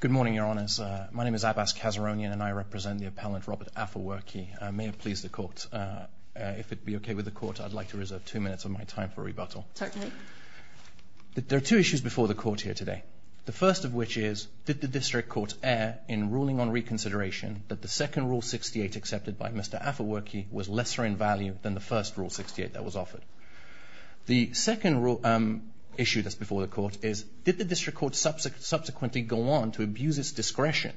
Good morning, Your Honours. My name is Abbas Kazaronian and I represent the appellant Robert Afewerki. May it please the Court, if it be okay with the Court, I'd like to reserve two minutes of my time for rebuttal. Certainly. There are two issues before the Court here today. The first of which is, did the District Court err in ruling on reconsideration that the second Rule 68 accepted by Mr. Afewerki was lesser in value than the first Rule 68 that was offered? The second issue that's before the Court is, did the District Court subsequently go on to abuse its discretion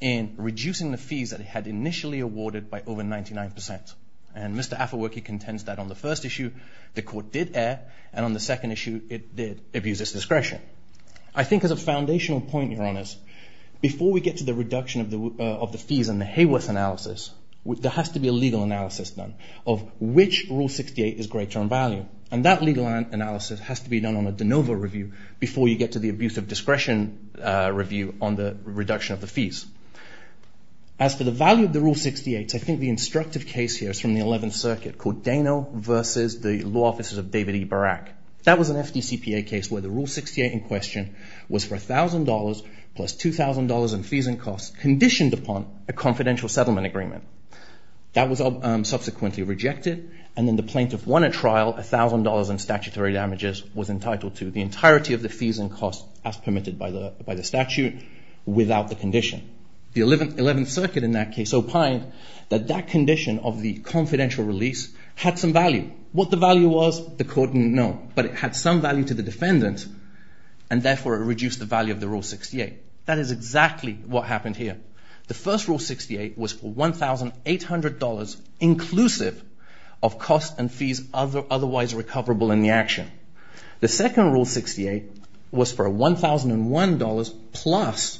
in reducing the fees that it had initially awarded by over 99%? And Mr. Afewerki contends that on the first issue the Court did err and on the second issue it did abuse its discretion. I think as a foundational point, Your Honours, before we get to the reduction of the fees and the Hayworth analysis, there has to be a legal analysis done of which Rule 68 is greater in value. And that legal analysis has to be done on a de novo review before you get to the abuse of discretion review on the reduction of the fees. As for the value of the Rule 68, I think the instructive case here is from the 11th Circuit called Dano v. The Law Officers of David E. Barak. That was an FDCPA case where the Rule 68 in question was for $1,000 plus $2,000 in fees and costs conditioned upon a confidential settlement agreement. That was subsequently rejected and then the plaintiff won a trial, $1,000 in statutory damages, was entitled to the entirety of the fees and costs as permitted by the statute without the condition. The 11th Circuit in that case opined that that condition of the confidential release had some value. What the value was, the Court didn't know, but it had some value to the defendant and therefore it reduced the value of the Rule 68. That is exactly what happened here. The first Rule 68 was for $1,800 inclusive of costs and fees otherwise recoverable in the action. The second Rule 68 was for $1,001 plus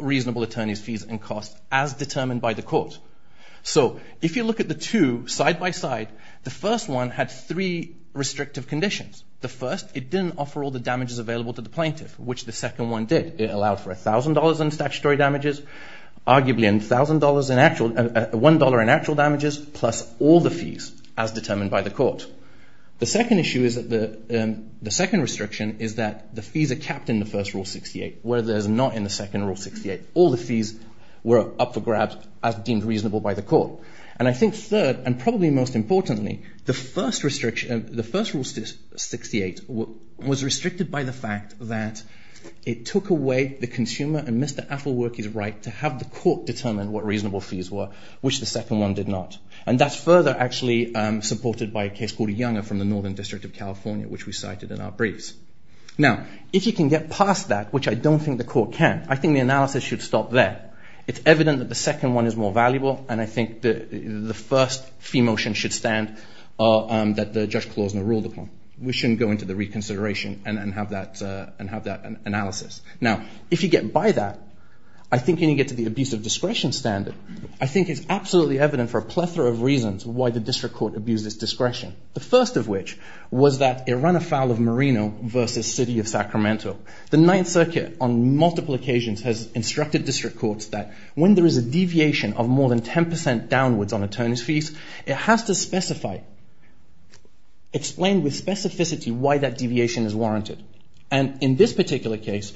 reasonable attorneys' fees and costs as determined by the Court. So if you look at the two side by side, the first one had three restrictive conditions. The first, it didn't offer all the damages available to the plaintiff, which the second one did. It allowed for $1,000 in statutory damages, arguably $1,000 in actual, $1 in actual damages plus all the fees as determined by the Court. The second issue is that the, the second restriction is that the fees are capped in the first Rule 68 where there's not in the second Rule 68. All the fees were up for grabs as deemed reasonable by the Court. And I think third, and probably most importantly, the first restriction, the first Rule 68 was restricted by the fact that it took away the consumer and Mr. Affleworky's right to have the Court determine what reasonable fees were, which the second one did not. And that's further actually supported by a case called Younger from the Northern District of California, which we cited in our briefs. Now, if you can get past that, which I don't think the Court can, I think the analysis should stop there. It's evident that the second one is more valuable. And I think the, the first fee motion should stand that the Judge Klosner ruled upon. We shouldn't go into the reconsideration and, and have that, and have that analysis. Now, if you get by that, I think when you get to the abuse of discretion standard, I think it's absolutely evident for a plethora of reasons why the District Court abused its discretion. The first of which was that it ran afoul of Merino versus City of Sacramento. The Ninth Circuit on multiple occasions has instructed District Courts that when there is a deviation of more than 10% downwards on attorneys' fees, it has to specify, explain with specificity why that deviation is warranted. And in this particular case,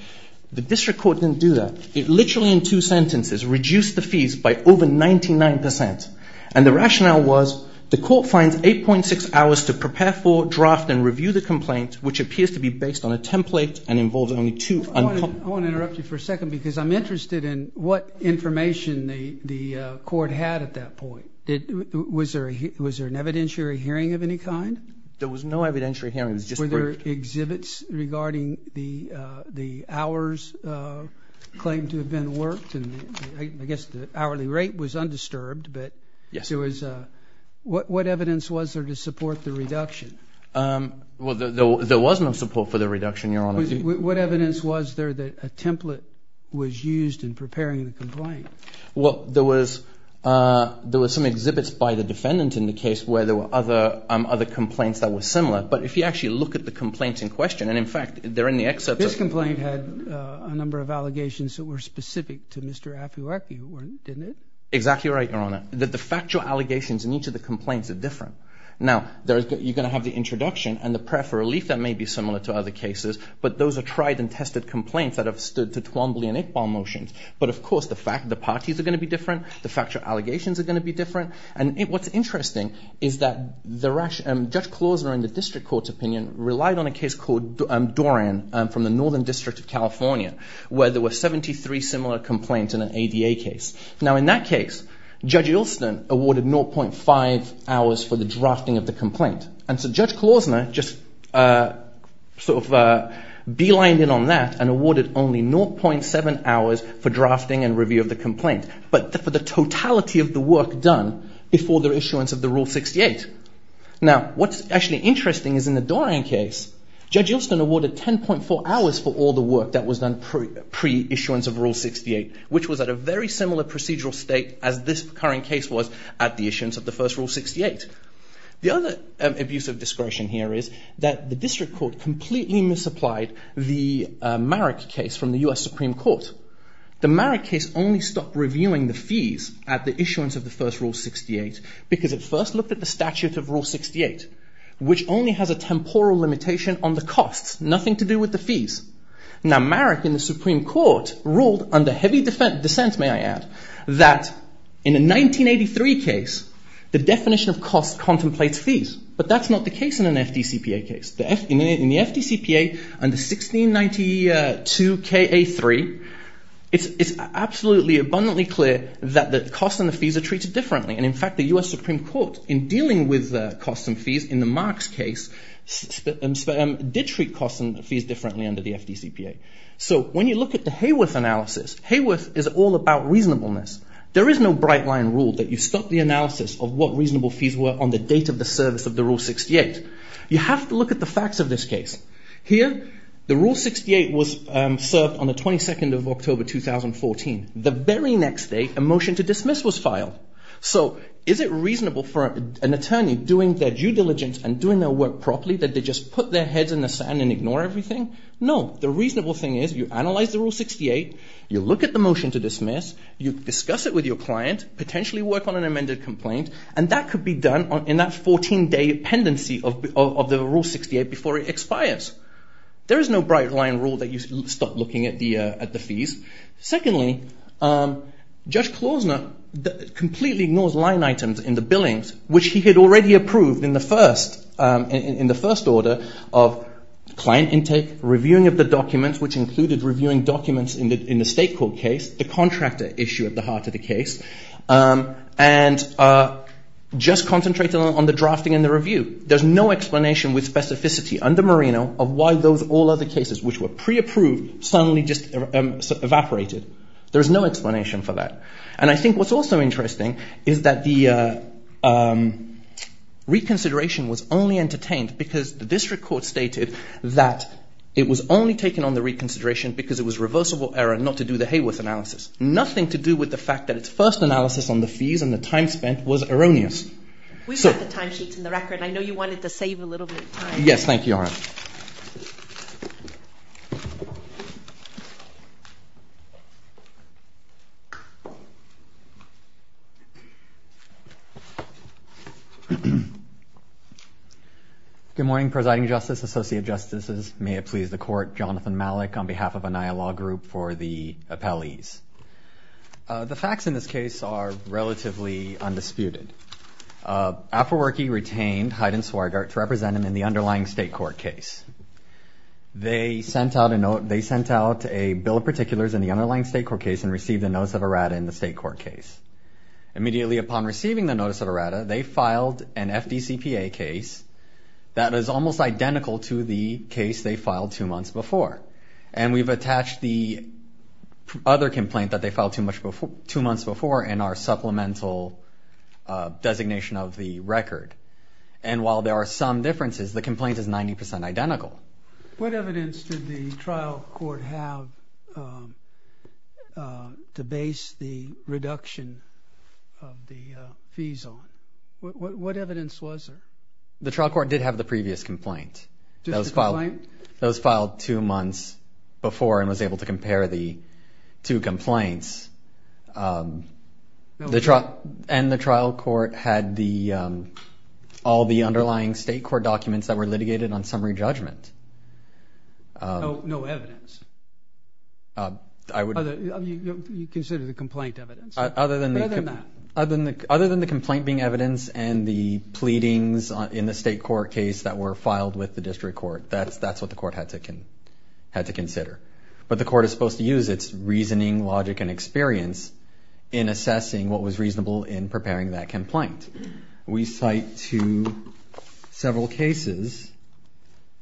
the District Court didn't do that. It literally in two sentences reduced the fees by over 99%. And the rationale was the Court finds 8.6 hours to prepare for, draft, and review the complaint, which appears to be based on a template and involves only two. I want to interrupt you for a second because I'm interested in what information the, the Court had at that point. Was there, was there an evidentiary hearing of any kind? There was no evidentiary hearing. Were there exhibits regarding the, the hours claimed to have been worked? I guess the hourly rate was undisturbed, but. Yes. What, what evidence was there to support the reduction? Well, there, there was no support for the reduction, Your Honor. What evidence was there that a template was used in preparing the complaint? Well, there was, there was some exhibits by the defendant in the case where there were other, other complaints that were similar. But if you actually look at the complaints in question, and in fact, they're in the excerpts of. This complaint had a number of allegations that were specific to Mr. Afewarki, didn't it? Exactly right, Your Honor. The factual allegations in each of the complaints are different. Now, there is, you're going to have the introduction and the prayer for relief that may be similar to other cases, but those are tried and tested complaints that have stood to Twombly and Iqbal motions. But, of course, the fact, the parties are going to be different. The factual allegations are going to be different. And what's interesting is that the, Judge Klozner in the District Court's opinion relied on a case called Dorian from the Northern District of California, where there were 73 similar complaints in an ADA case. Now, in that case, Judge Ilston awarded 0.5 hours for the drafting of the complaint. And so Judge Klozner just sort of beelined in on that and awarded only 0.7 hours for drafting and review of the complaint, but for the totality of the work done before the issuance of the Rule 68. Now, what's actually interesting is in the Dorian case, Judge Ilston awarded 10.4 hours for all the work that was done pre-issuance of Rule 68, which was at a very similar procedural state as this current case was at the issuance of the first Rule 68. The other abuse of discretion here is that the District Court completely misapplied the Marek case from the U.S. Supreme Court. The Marek case only stopped reviewing the fees at the issuance of the first Rule 68 because it first looked at the statute of Rule 68, which only has a temporal limitation on the costs, nothing to do with the fees. Now, Marek in the Supreme Court ruled under heavy dissent, may I add, that in a 1983 case, the definition of cost contemplates fees, but that's not the case in an FDCPA case. In the FDCPA, under 1692Ka3, it's absolutely abundantly clear that the costs and the fees are treated differently. And in fact, the U.S. Supreme Court, in dealing with costs and fees in the Marek case, did treat costs and fees differently under the FDCPA. So, when you look at the Hayworth analysis, Hayworth is all about reasonableness. There is no bright line rule that you stop the analysis of what reasonable fees were on the date of the service of the Rule 68. You have to look at the facts of this case. Here, the Rule 68 was served on the 22nd of October 2014. So, is it reasonable for an attorney, doing their due diligence and doing their work properly, that they just put their heads in the sand and ignore everything? No. The reasonable thing is, you analyze the Rule 68, you look at the motion to dismiss, you discuss it with your client, potentially work on an amended complaint, and that could be done in that 14-day pendency of the Rule 68 before it expires. There is no bright line rule that you stop looking at the fees. Secondly, Judge Klozner completely ignores line items in the billings, which he had already approved in the first order of client intake, reviewing of the documents, which included reviewing documents in the state court case, the contractor issue at the heart of the case, and just concentrated on the drafting and the review. There is no explanation with specificity under Merino of why those all other cases, which were pre-approved, suddenly just evaporated. There is no explanation for that. And I think what's also interesting is that the reconsideration was only entertained because the district court stated that it was only taken on the reconsideration because it was reversible error not to do the Hayworth analysis. Nothing to do with the fact that its first analysis on the fees and the time spent was erroneous. We've got the timesheets in the record. I know you wanted to save a little bit of time. Yes, thank you, Your Honor. Good morning, Presiding Justice, Associate Justices, may it please the Court, Jonathan Malik on behalf of Anaya Law Group for the appellees. The facts in this case are relatively undisputed. Apfelwerke retained Haydn-Sweigart to represent him in the underlying state court case. They sent out a bill of particulars in the underlying state court case and received a notice of errata in the state court case. Immediately upon receiving the notice of errata, they filed an FDCPA case that is almost identical to the case they filed two months before. And we've attached the other complaint that they filed two months before in our supplemental designation of the record. And while there are some differences, the complaint is 90% identical. What evidence did the trial court have to base the reduction of the fees on? What evidence was there? The trial court did have the previous complaint. Just the complaint? It was filed two months before and was able to compare the two complaints. And the trial court had all the underlying state court documents that were litigated on summary judgment. No evidence? You consider the complaint evidence? Other than the complaint being evidence and the pleadings in the state court case that were filed with the district court, that's what the court had to consider. But the court is supposed to use its reasoning, logic, and experience in assessing what was reasonable in preparing that complaint. We cite to several cases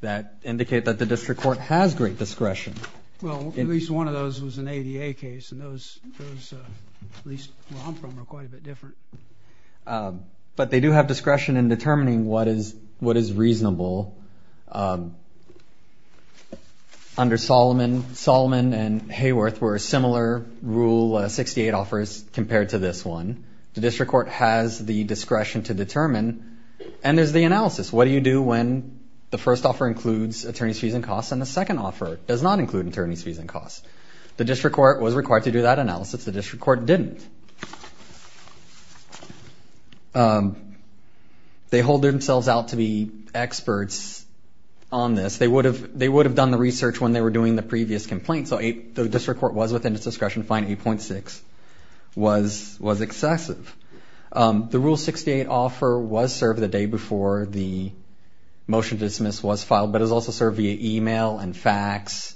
that indicate that the district court has great discretion. Well, at least one of those was an ADA case, and those at least where I'm from are quite a bit different. But they do have discretion in determining what is reasonable. Under Solomon, Solomon and Hayworth were similar Rule 68 offers compared to this one. The district court has the discretion to determine. And there's the analysis. What do you do when the first offer includes attorney's fees and costs and the second offer does not include attorney's fees and costs? The district court was required to do that analysis. The district court didn't. They hold themselves out to be experts on this. They would have done the research when they were doing the previous complaint, so the district court was within its discretion to find 8.6 was excessive. The Rule 68 offer was served the day before the motion to dismiss was filed, but it was also served via email and fax.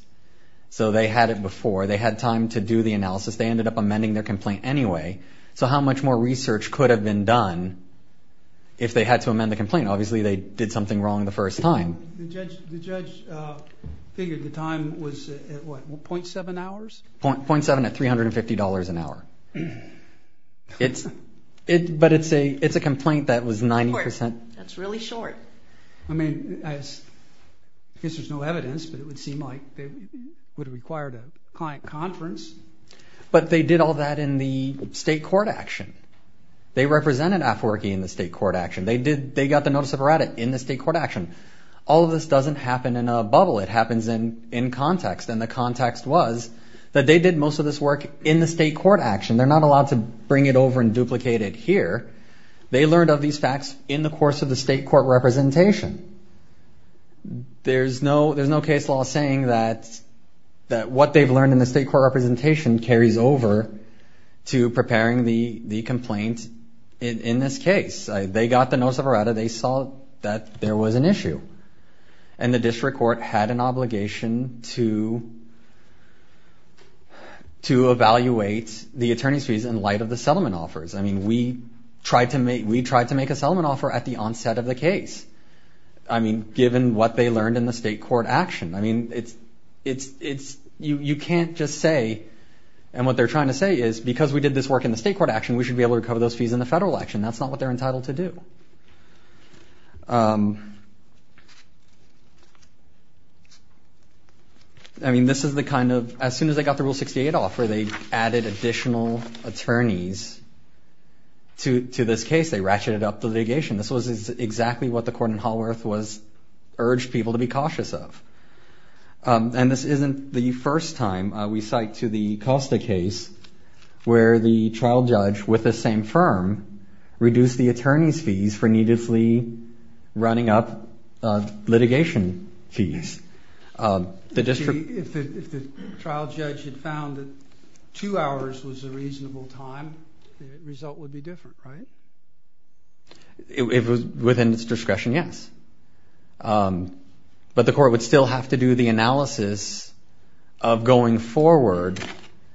So they had it before. They had time to do the analysis. They ended up amending their complaint anyway. So how much more research could have been done if they had to amend the complaint? Obviously, they did something wrong the first time. The judge figured the time was at, what, .7 hours? .7 at $350 an hour. But it's a complaint that was 90% That's really short. I mean, I guess there's no evidence, but it would seem like it would have required a client conference. But they did all that in the state court action. They represented AFWERKI in the state court action. They got the notice of errata in the state court action. All of this doesn't happen in a bubble. It happens in context, and the context was that they did most of this work in the state court action. They're not allowed to bring it over and duplicate it here. They learned of these facts in the course of the state court representation. There's no case law saying that what they've learned in the state court representation carries over to preparing the complaint in this case. They got the notice of errata. They saw that there was an issue, and the district court had an obligation to evaluate the attorney's fees in light of the settlement offers. I mean, we tried to make a settlement offer at the onset of the case, I mean, given what they learned in the state court action. You can't just say, and what they're trying to say is, because we did this work in the state court action, we should be able to cover those fees in the federal action. That's not what they're entitled to do. I mean, this is the kind of, as soon as they got the Rule 68 offer, they added additional attorneys to this case. They ratcheted up the litigation. This was exactly what the court in Haworth urged people to be cautious of. And this isn't the first time we cite to the Costa case where the trial judge with the same firm reduced the attorney's fees for needlessly running up litigation fees. If the trial judge had found that two hours was a reasonable time, the result would be different, right? If it was within its discretion, yes. But the court would still have to do the analysis of going forward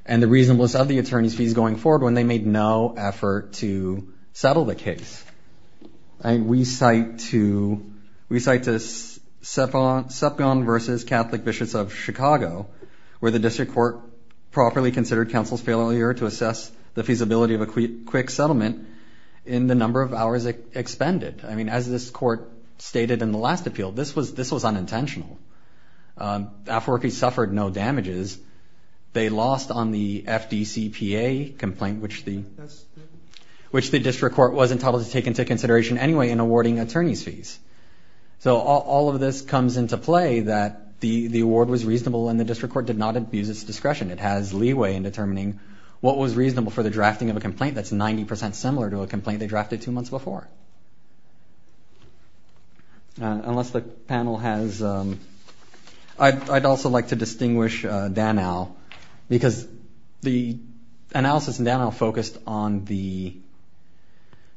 and the reasonableness of the attorney's fees going forward when they made no effort to settle the case. We cite to Sepgon v. Catholic Bishops of Chicago where the district court properly considered counsel's failure to assess the feasibility of a quick settlement in the number of hours expended. I mean, as this court stated in the last appeal, this was unintentional. Afro-Rookies suffered no damages. They lost on the FDCPA complaint, which the district court was entitled to take into consideration anyway in awarding attorney's fees. So all of this comes into play that the award was reasonable and the district court did not abuse its discretion. It has leeway in determining what was reasonable for the drafting of a complaint that's 90% similar to a complaint they drafted two months before. Unless the panel has... I'd also like to distinguish Danow because the analysis in Danow focused on the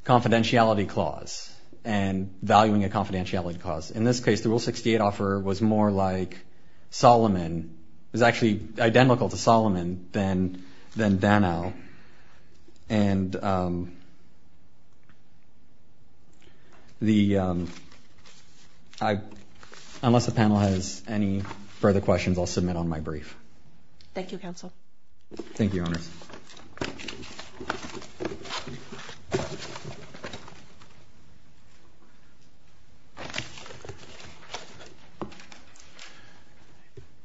confidentiality clause and valuing a confidentiality clause. In this case, the Rule 68 offer was more like Solomon. It was actually identical to Solomon than Danow. And the... Unless the panel has any further questions, I'll submit on my brief. Thank you, counsel. Thank you, Your Honours.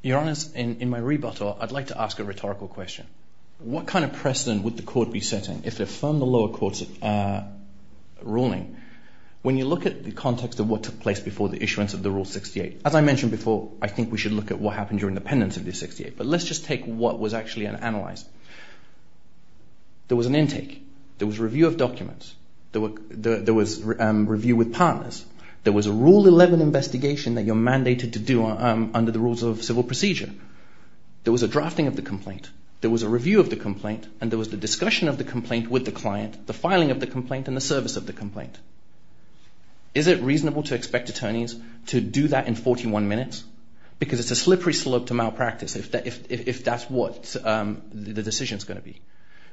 Your Honours, in my rebuttal, I'd like to ask a rhetorical question. What kind of precedent would the court be setting if it affirmed the lower court's ruling? When you look at the context of what took place before the issuance of the Rule 68, as I mentioned before, I think we should look at what happened during the pendency of the 68. But let's just take what was actually analysed. There was an intake. There was review of documents. There was review with partners. There was a Rule 11 investigation that you're mandated to do under the rules of civil procedure. There was a drafting of the complaint. There was a review of the complaint. And there was the discussion of the complaint with the client, the filing of the complaint, and the service of the complaint. Is it reasonable to expect attorneys to do that in 41 minutes? Because it's a slippery slope to malpractice if that's what the decision's going to be.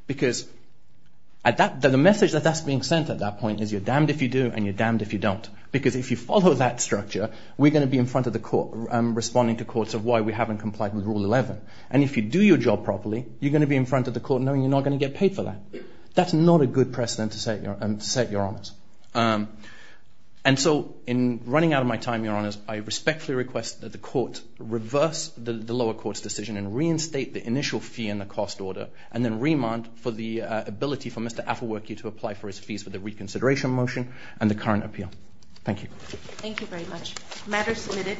Because the message that that's being sent at that point is you're damned if you do and you're damned if you don't. Because if you follow that structure, we're going to be in front of the court, responding to courts of why we haven't complied with Rule 11. And if you do your job properly, you're going to be in front of the court knowing you're not going to get paid for that. That's not a good precedent to set, Your Honours. And so, in running out of my time, Your Honours, I respectfully request that the court reverse the lower court's decision and reinstate the initial fee and the cost order and then remand for the ability for Mr. Affleworkie to apply for his fees for the reconsideration motion and the current appeal. Thank you. Thank you very much. Matter submitted.